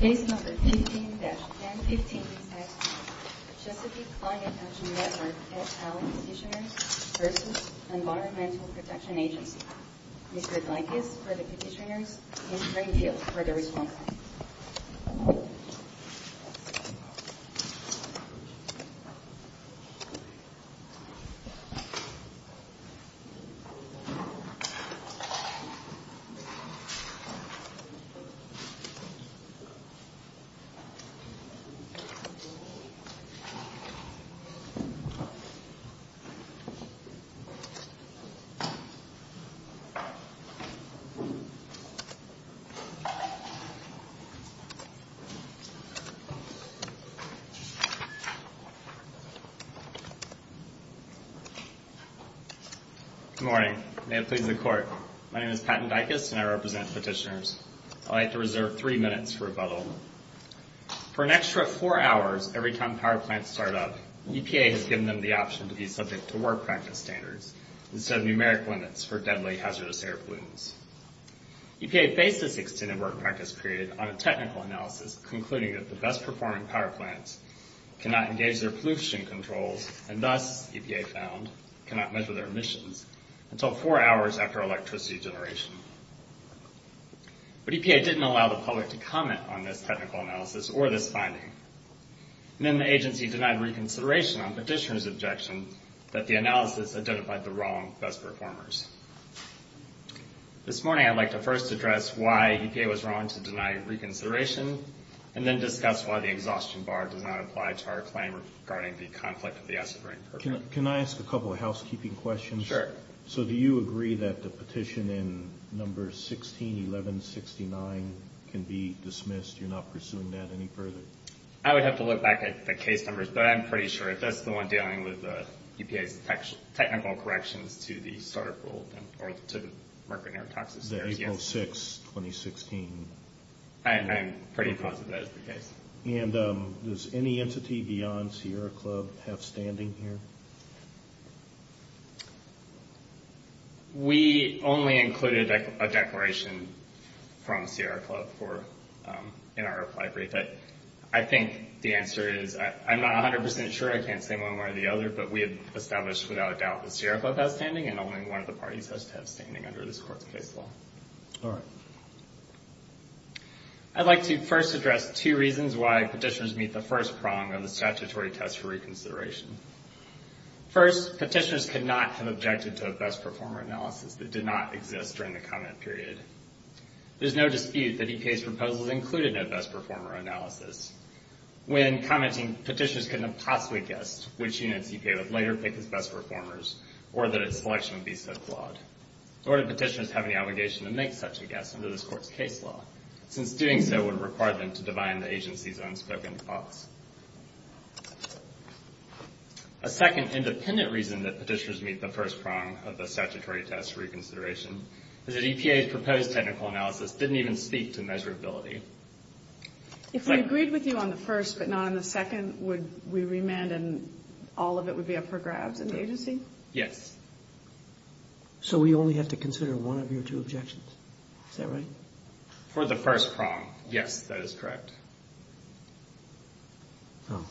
15-1015 Chesapeake Climate Action Network et al. Petitioners v. Environmental Protection Agency We would like this for the petitioners in the green field for their response. Good morning. May it please the Court, my name is Patton Dykus and I represent petitioners. I would like to reserve three minutes for rebuttal. For an extra four hours every time power plants start up, EPA has given them the option to be subject to work practice standards instead of numeric limits for deadly hazardous air pollutants. EPA based this extended work practice period on a technical analysis concluding that the best performing power plants cannot engage their pollution controls and thus, EPA found, cannot measure their emissions until four hours after electricity generation. But EPA didn't allow the public to comment on this technical analysis or this finding. And then the agency denied reconsideration on petitioners' objection that the analysis identified the wrong best performers. This morning I'd like to first address why EPA was wrong to deny reconsideration and then discuss why the exhaustion bar does not apply to our claim regarding the conflict of the acid rain. Can I ask a couple of housekeeping questions? Sure. So do you agree that the petition in numbers 16, 11, 69 can be dismissed? You're not pursuing that any further? I would have to look back at the case numbers, but I'm pretty sure if that's the one dealing with EPA's technical corrections to the start up rule or to the market air taxes. That is 06, 2016. I'm pretty positive that is the case. And does any entity beyond Sierra Club have standing here? We only included a declaration from Sierra Club in our reply brief. I think the answer is I'm not 100% sure. I can't say one way or the other, but we have established without a doubt that Sierra Club has standing and only one of the parties has to have standing under this court's case law. All right. I'd like to first address two reasons why petitioners meet the first prong of the statutory test for reconsideration. First, petitioners could not have objected to a best performer analysis that did not exist during the comment period. There's no dispute that EPA's proposals included no best performer analysis. When commenting, petitioners couldn't have possibly guessed which units EPA would later pick as best performers or that its selection would be so flawed. Nor do petitioners have any obligation to make such a guess under this court's case law, since doing so would require them to divine the agency's unspoken faults. A second independent reason that petitioners meet the first prong of the statutory test reconsideration is that EPA's proposed technical analysis didn't even speak to measurability. If we agreed with you on the first but not on the second, would we remand and all of it would be up for grabs in the agency? Yes. So we only have to consider one of your two objections. Is that right? For the first prong, yes, that is correct. Oh.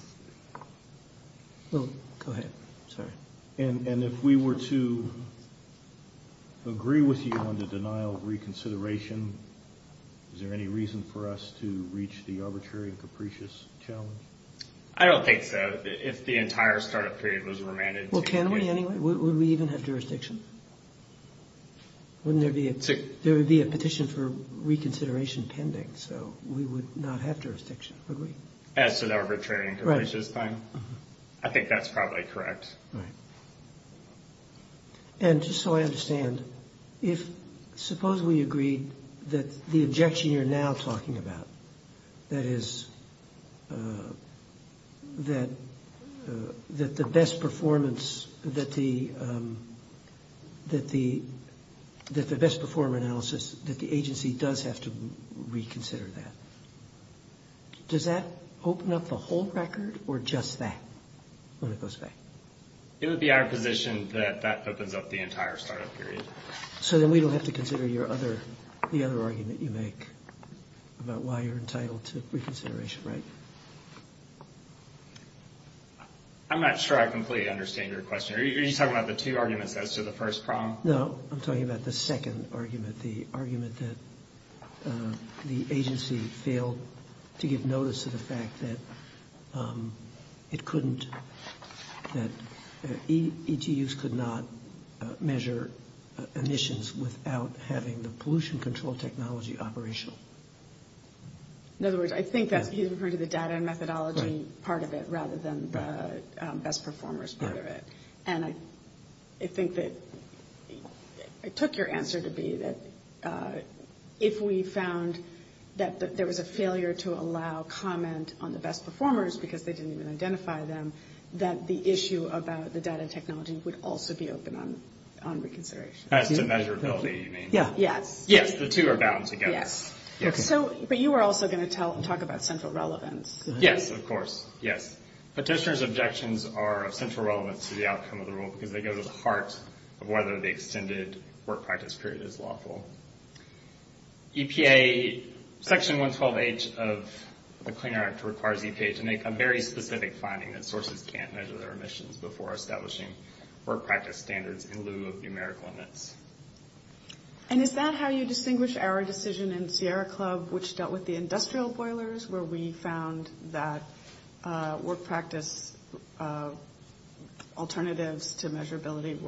Well, go ahead. Sorry. And if we were to agree with you on the denial of reconsideration, is there any reason for us to reach the arbitrary and capricious challenge? I don't think so. If the entire start-up period was remanded to EPA. Well, can we anyway? Would we even have jurisdiction? Wouldn't there be a petition for reconsideration pending? So we would not have jurisdiction, would we? As to the arbitrary and capricious thing? Right. I think that's probably correct. Right. And just so I understand, suppose we agreed that the objection you're now talking about, that is, that the best performance, that the best performance analysis, that the agency does have to reconsider that. Does that open up the whole record or just that when it goes back? It would be our position that that opens up the entire start-up period. So then we don't have to consider your other, the other argument you make about why you're entitled to reconsideration, right? I'm not sure I completely understand your question. Are you talking about the two arguments as to the first problem? No, I'm talking about the second argument, the argument that the agency failed to give notice to the fact that it couldn't, that ETUs could not measure emissions without having the pollution control technology operational. In other words, I think that he's referring to the data and methodology part of it rather than the best performers part of it. And I think that it took your answer to be that if we found that there was a failure to allow comment on the best performers because they didn't even identify them, that the issue about the data and technology would also be open on reconsideration. As to measurability, you mean? Yes. Yes, the two are bound together. Yes. But you were also going to talk about central relevance. Yes, of course. Yes. Petitioner's objections are of central relevance to the outcome of the rule because they go to the heart of whether the extended work practice period is lawful. EPA, Section 112H of the Clean Air Act requires EPA to make a very specific finding that sources can't measure their emissions before establishing work practice standards in lieu of numerical limits. And is that how you distinguish our decision in Sierra Club, which dealt with the industrial boilers, where we found that work practice alternatives to measurability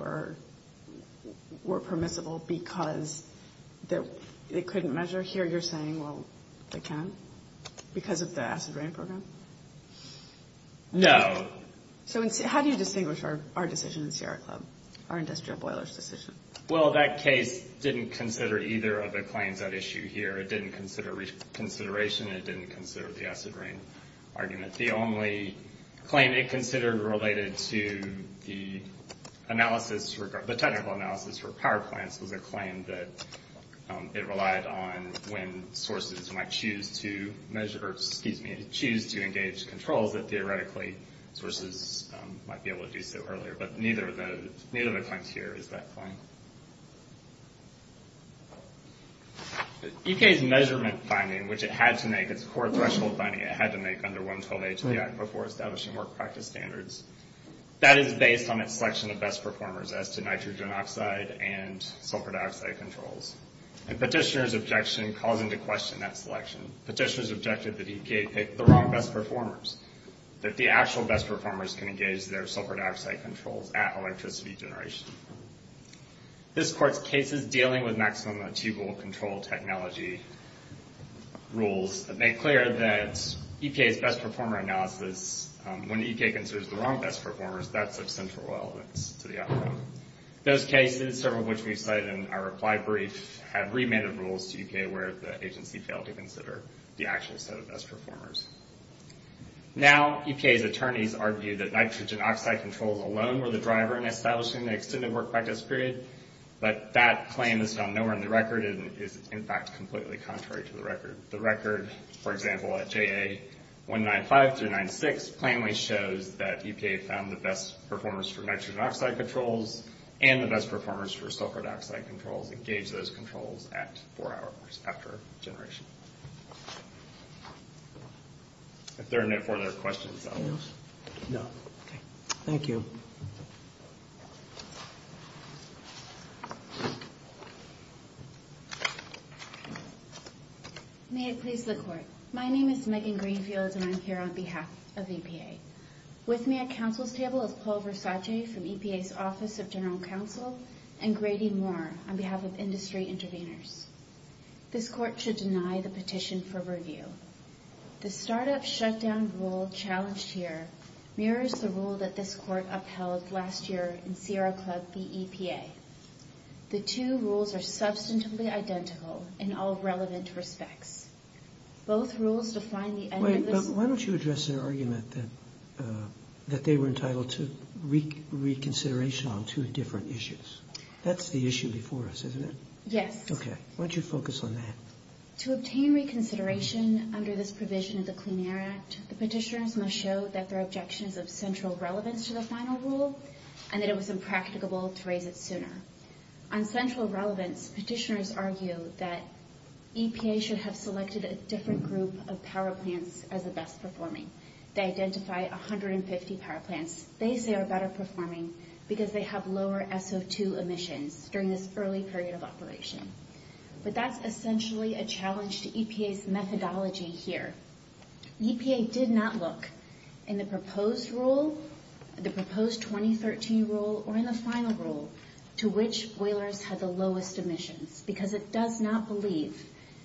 were permissible because they couldn't measure? Here you're saying, well, they can because of the acid rain program? No. So how do you distinguish our decision in Sierra Club, our industrial boilers decision? Well, that case didn't consider either of the claims at issue here. It didn't consider reconsideration. It didn't consider the acid rain argument. The only claim it considered related to the technical analysis for power plants was a claim that it relied on when sources might choose to engage controls that theoretically sources might be able to do so earlier. But neither of the claims here is that claim. EPA's measurement finding, which it had to make, its core threshold finding, it had to make under 112A to the Act before establishing work practice standards. That is based on its selection of best performers as to nitrogen oxide and sulfur dioxide controls. And petitioners' objection calls into question that selection. Petitioners objected that EPA picked the wrong best performers, that the actual best performers can engage their sulfur dioxide controls at electricity generation. This Court's case is dealing with maximum achievable control technology rules that make clear that EPA's best performer analysis, when EPA considers the wrong best performers, that's of central relevance to the outcome. Those cases, several of which we cite in our reply brief, have remanded rules to EPA where the agency failed to consider the actual set of best performers. Now, EPA's attorneys argue that nitrogen oxide controls alone were the driver in establishing the extended work practice period, but that claim is found nowhere in the record and is, in fact, completely contrary to the record. For example, at JA 195-96, plainly shows that EPA found the best performers for nitrogen oxide controls and the best performers for sulfur dioxide controls engaged those controls at four hours after generation. If there are no further questions, I'll move. No? Okay. Thank you. May it please the Court. My name is Megan Greenfield, and I'm here on behalf of EPA. With me at counsel's table is Paul Versace from EPA's Office of General Counsel and Grady Moore on behalf of Industry Interveners. This Court should deny the petition for review. The startup shutdown rule challenged here mirrors the rule that this Court upheld last year in Sierra Club v. EPA. The two rules are substantively identical in all relevant respects. Both rules define the end of this... Wait, but why don't you address their argument that they were entitled to reconsideration on two different issues? That's the issue before us, isn't it? Yes. Okay. Why don't you focus on that? To obtain reconsideration under this provision of the Clean Air Act, the petitioners must show that their objection is of central relevance to the final rule and that it was impracticable to raise it sooner. On central relevance, petitioners argue that EPA should have selected a different group of power plants as the best performing. They identify 150 power plants they say are better performing because they have lower SO2 emissions during this early period of operation. But that's essentially a challenge to EPA's methodology here. EPA did not look in the proposed rule, the proposed 2013 rule, or in the final rule to which boilers had the lowest emissions because it does not believe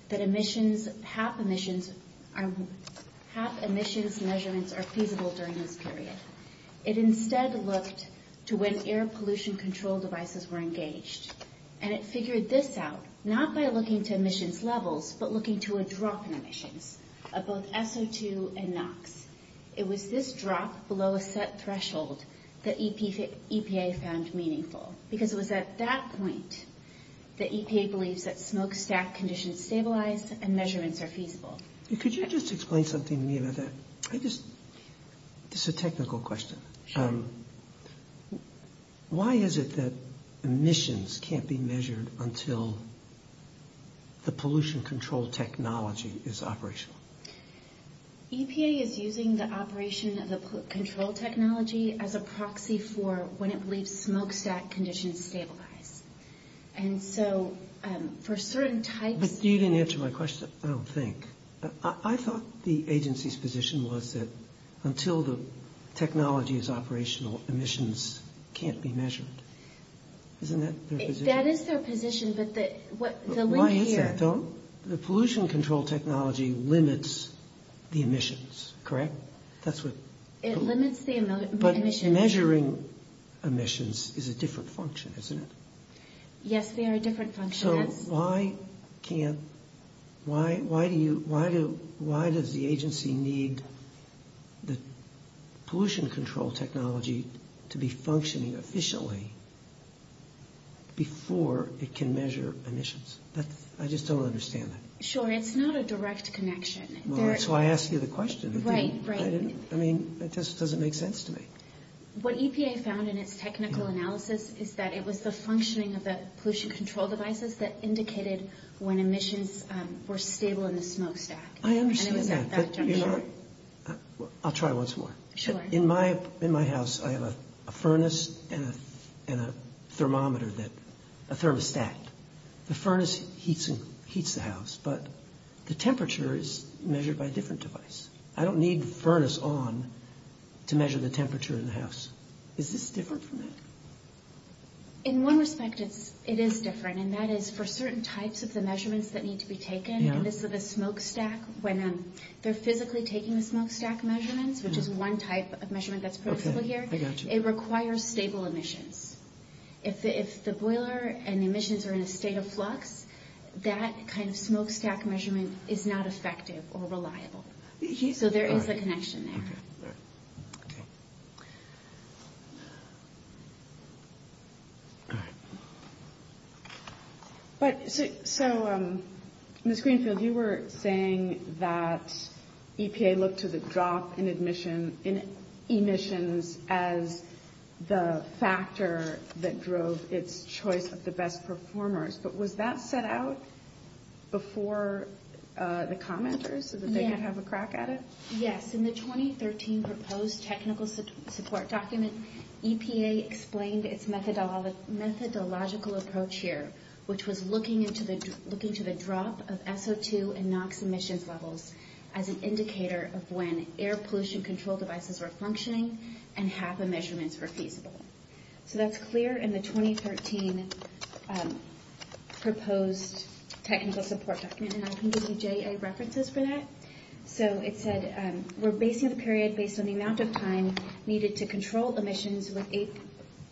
that emissions, HAP emissions measurements are feasible during this period. It instead looked to when air pollution control devices were engaged. And it figured this out not by looking to emissions levels but looking to a drop in emissions of both SO2 and NOx. It was this drop below a set threshold that EPA found meaningful because it was at that point that EPA believes that smokestack conditions stabilize and measurements are feasible. Could you just explain something to me about that? I just, it's a technical question. Sure. Why is it that emissions can't be measured until the pollution control technology is operational? EPA is using the operation of the control technology as a proxy for when it believes smokestack conditions stabilize. And so for certain types... But you didn't answer my question. I don't think. I thought the agency's position was that until the technology is operational, emissions can't be measured. Isn't that their position? That is their position, but the... Why is that though? The pollution control technology limits the emissions, correct? It limits the emissions. But measuring emissions is a different function, isn't it? Yes, they are a different function. So why does the agency need the pollution control technology to be functioning efficiently before it can measure emissions? I just don't understand that. Sure, it's not a direct connection. Well, that's why I asked you the question. Right, right. I mean, it just doesn't make sense to me. What EPA found in its technical analysis is that it was the functioning of the pollution control devices that indicated when emissions were stable in the smokestack. I understand that. And it was at that juncture. I'll try once more. Sure. In my house, I have a furnace and a thermometer that... a thermostat. The furnace heats the house, but the temperature is measured by a different device. I don't need the furnace on to measure the temperature in the house. Is this different from that? In one respect, it is different, and that is for certain types of the measurements that need to be taken. This is a smokestack. When they're physically taking the smokestack measurements, which is one type of measurement that's possible here, it requires stable emissions. If the boiler and the emissions are in a state of flux, that kind of smokestack measurement is not effective or reliable. So there is a connection there. Okay. All right. So, Ms. Greenfield, you were saying that EPA looked to the drop in emissions as the factor that drove its choice of the best performers, but was that set out before the commenters so that they could have a crack at it? Yes. In the 2013 proposed technical support document, EPA explained its methodological approach here, which was looking to the drop of SO2 and NOx emissions levels as an indicator of when air pollution control devices were functioning and HABA measurements were feasible. So that's clear in the 2013 proposed technical support document, and I can give you JA references for that. So it said we're basing the period based on the amount of time needed to control emissions with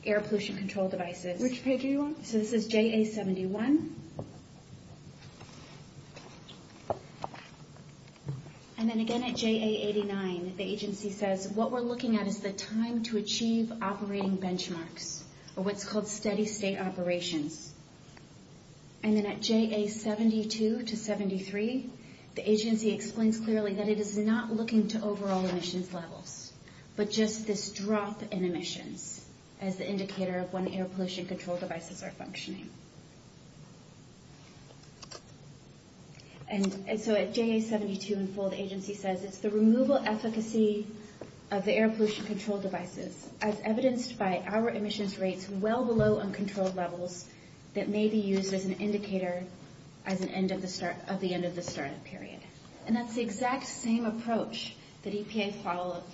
air pollution control devices. Which page are you on? So this is JA 71. And then again at JA 89, the agency says what we're looking at is the time to achieve operating benchmarks, or what's called steady state operations. And then at JA 72 to 73, the agency explains clearly that it is not looking to overall emissions levels, but just this drop in emissions as the indicator of when air pollution control devices are functioning. And so at JA 72 in full, the agency says it's the removal efficacy of the air pollution control devices as evidenced by our emissions rates well below uncontrolled levels that may be used as an indicator of the end of the startup period. And that's the exact same approach that EPA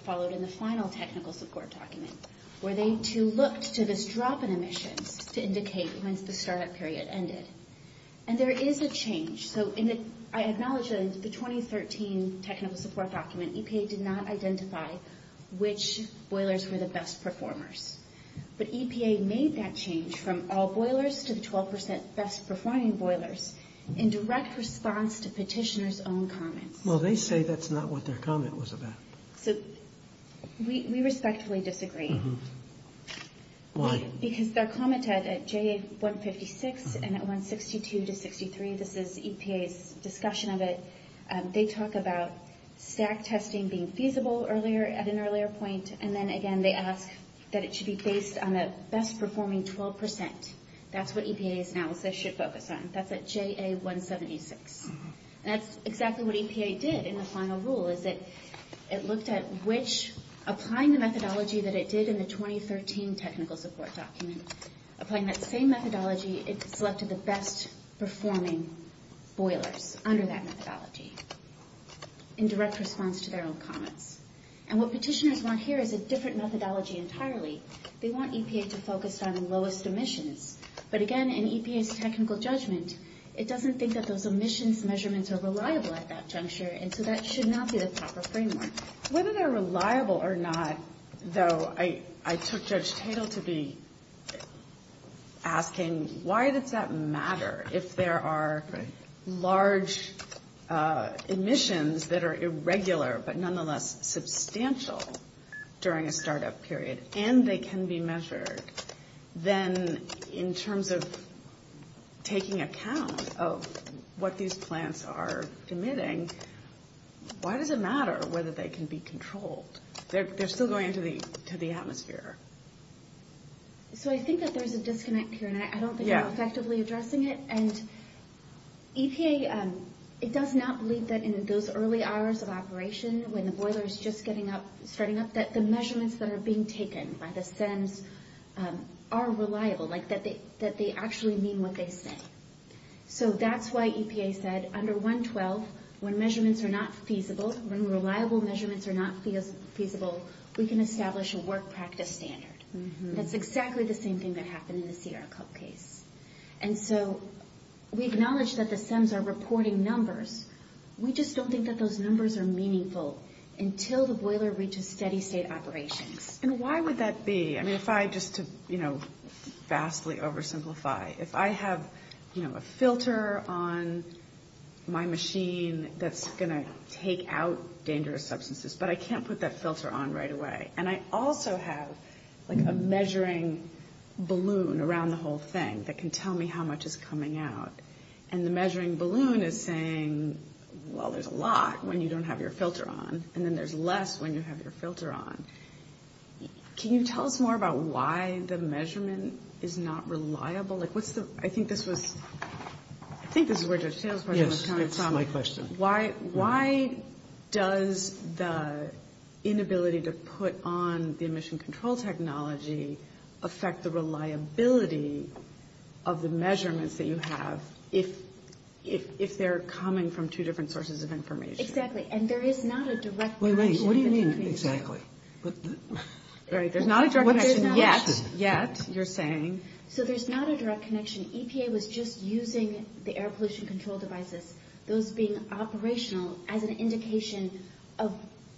followed in the final technical support document, where they, too, looked to this drop in emissions to indicate when the startup period ended. And there is a change. So I acknowledge that in the 2013 technical support document, EPA did not identify which boilers were the best performers. But EPA made that change from all boilers to the 12 percent best performing boilers in direct response to petitioners' own comments. Well, they say that's not what their comment was about. So we respectfully disagree. Why? Because their comment at JA 156 and at 162 to 63, this is EPA's discussion of it, they talk about stack testing being feasible at an earlier point, and then again they ask that it should be based on the best performing 12 percent. That's what EPA's analysis should focus on. That's at JA 176. And that's exactly what EPA did in the final rule, is that it looked at which, applying the methodology that it did in the 2013 technical support document, applying that same methodology, it selected the best performing boilers under that methodology in direct response to their own comments. And what petitioners want here is a different methodology entirely. They want EPA to focus on lowest emissions. But again, in EPA's technical judgment, it doesn't think that those emissions measurements are reliable at that juncture, and so that should not be the proper framework. Whether they're reliable or not, though, I took Judge Tatel to be asking why does that matter if there are large emissions that are irregular but nonetheless substantial during a startup period, and they can be measured, then in terms of taking account of what these plants are emitting, why does it matter whether they can be controlled? They're still going into the atmosphere. So I think that there's a disconnect here, and I don't think we're effectively addressing it. And EPA, it does not believe that in those early hours of operation when the boiler is just getting up, starting up, that the measurements that are being taken by the SEMs are reliable, that they actually mean what they say. So that's why EPA said under 112, when measurements are not feasible, when reliable measurements are not feasible, we can establish a work practice standard. That's exactly the same thing that happened in the Sierra Club case. And so we acknowledge that the SEMs are reporting numbers. We just don't think that those numbers are meaningful until the boiler reaches steady-state operations. And why would that be? I mean, if I just to vastly oversimplify, if I have a filter on my machine that's going to take out dangerous substances, but I can't put that filter on right away, and I also have, like, a measuring balloon around the whole thing that can tell me how much is coming out, and the measuring balloon is saying, well, there's a lot when you don't have your filter on, and then there's less when you have your filter on. Can you tell us more about why the measurement is not reliable? Like, what's the – I think this was – I think this is where Judge Taylor's question was coming from. Yes, that's my question. Why does the inability to put on the emission control technology affect the reliability of the measurements that you have if they're coming from two different sources of information? Exactly. And there is not a direct connection. Wait, wait. What do you mean, exactly? Right. There's not a direct connection yet. What's the question? Yet, you're saying. So there's not a direct connection. EPA was just using the air pollution control devices, those being operational, as an indication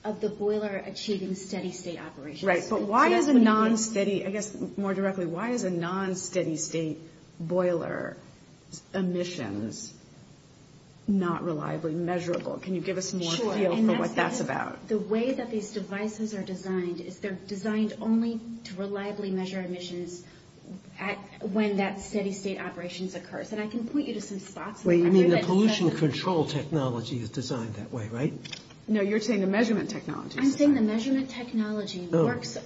of the boiler achieving steady-state operations. Right. But why is a non-steady – I guess, more directly, why is a non-steady-state boiler emissions not reliably measurable? Can you give us more feel for what that's about? Sure. And that's because the way that these devices are designed is they're designed only to reliably measure emissions when that steady-state operations occurs. And I can point you to some spots. Wait, you mean the pollution control technology is designed that way, right? No, you're saying the measurement technology is. I'm saying the measurement technology works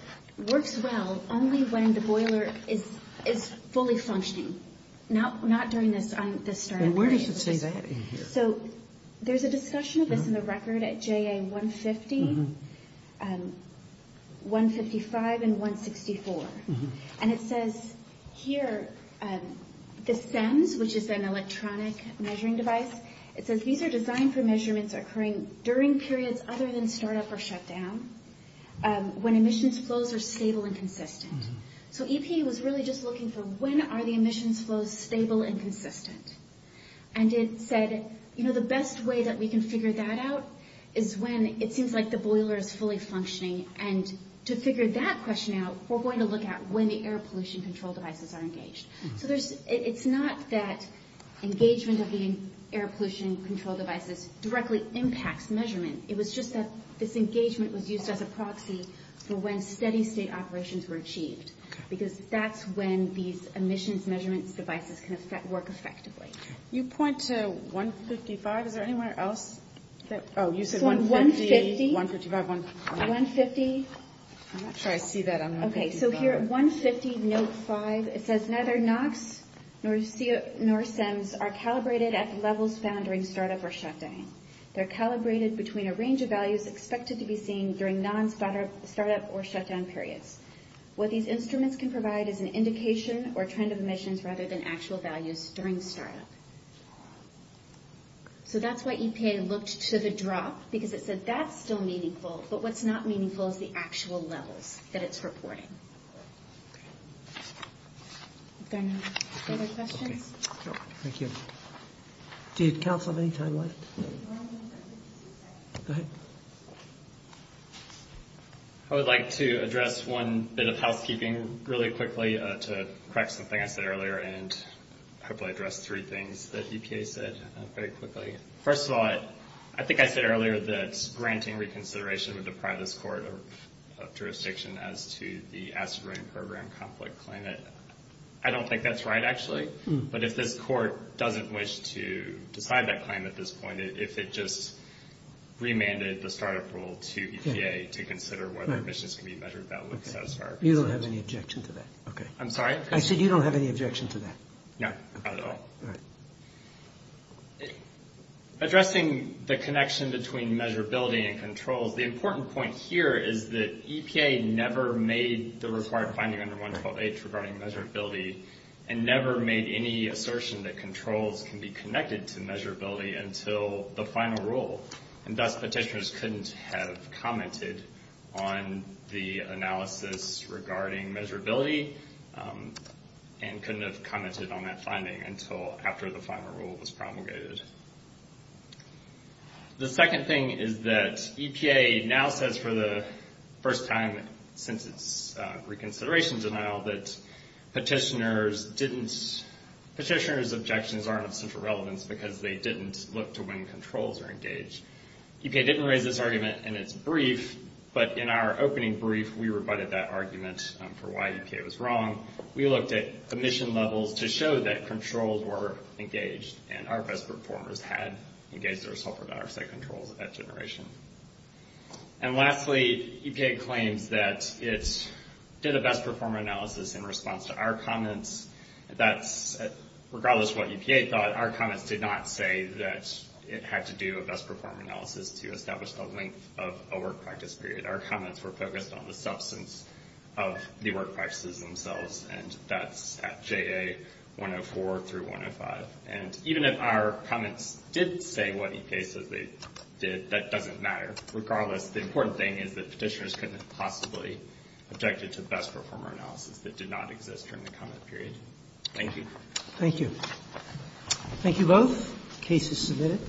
well only when the boiler is fully functioning. Not during this startup period. And where does it say that in here? So there's a discussion of this in the record at JA 150, 155, and 164. And it says here, the CEMS, which is an electronic measuring device, it says these are designed for measurements occurring during periods other than startup or shutdown, when emissions flows are stable and consistent. So EPA was really just looking for when are the emissions flows stable and consistent. And it said, you know, the best way that we can figure that out is when it seems like the boiler is fully functioning. And to figure that question out, we're going to look at when the air pollution control devices are engaged. So it's not that engagement of the air pollution control devices directly impacts measurement. It was just that this engagement was used as a proxy for when steady-state operations were achieved. Because that's when these emissions measurement devices can work effectively. You point to 155. Is there anywhere else? Oh, you said 150. 155, 150. I'm not sure I see that on 150. Okay, so here, 150, note 5. It says, neither NOx nor CEMS are calibrated at the levels found during startup or shutdown. They're calibrated between a range of values expected to be seen during non-startup or shutdown periods. What these instruments can provide is an indication or trend of emissions rather than actual values during startup. So that's why EPA looked to the drop, because it said that's still meaningful, but what's not meaningful is the actual levels that it's reporting. Other questions? Thank you. Did Council have any time left? Go ahead. I would like to address one bit of housekeeping really quickly to correct something I said earlier, and hopefully address three things that EPA said very quickly. First of all, I think I said earlier that granting reconsideration would deprive this court of jurisdiction as to the acid rain program conflict claim. I don't think that's right, actually. But if this court doesn't wish to decide that claim at this point, if it just remanded the startup rule to EPA to consider whether emissions can be measured, that would satisfy our concerns. You don't have any objection to that. I'm sorry? I said you don't have any objection to that. No, not at all. Addressing the connection between measurability and controls, the important point here is that EPA never made the required finding under 112H regarding measurability, and never made any assertion that controls can be connected to measurability until the final rule. And thus, petitioners couldn't have commented on the analysis regarding measurability and couldn't have commented on that finding until after the final rule was promulgated. The second thing is that EPA now says for the first time since its reconsideration denial that petitioners' objections aren't of central relevance because they didn't look to when controls are engaged. EPA didn't raise this argument in its brief, but in our opening brief, we rebutted that argument for why EPA was wrong. We looked at emission levels to show that controls were engaged and our best performers had engaged their sulfur dioxide controls at generation. And lastly, EPA claims that it did a best performer analysis in response to our comments. That's regardless of what EPA thought. Our comments did not say that it had to do a best performer analysis to establish the length of a work practice period. Our comments were focused on the substance of the work practices themselves, and that's at JA 104 through 105. And even if our comments did say what EPA said they did, that doesn't matter. Regardless, the important thing is that petitioners couldn't have possibly objected to the best performer analysis that did not exist during the comment period. Thank you. Roberts. Thank you. Thank you both. The case is submitted.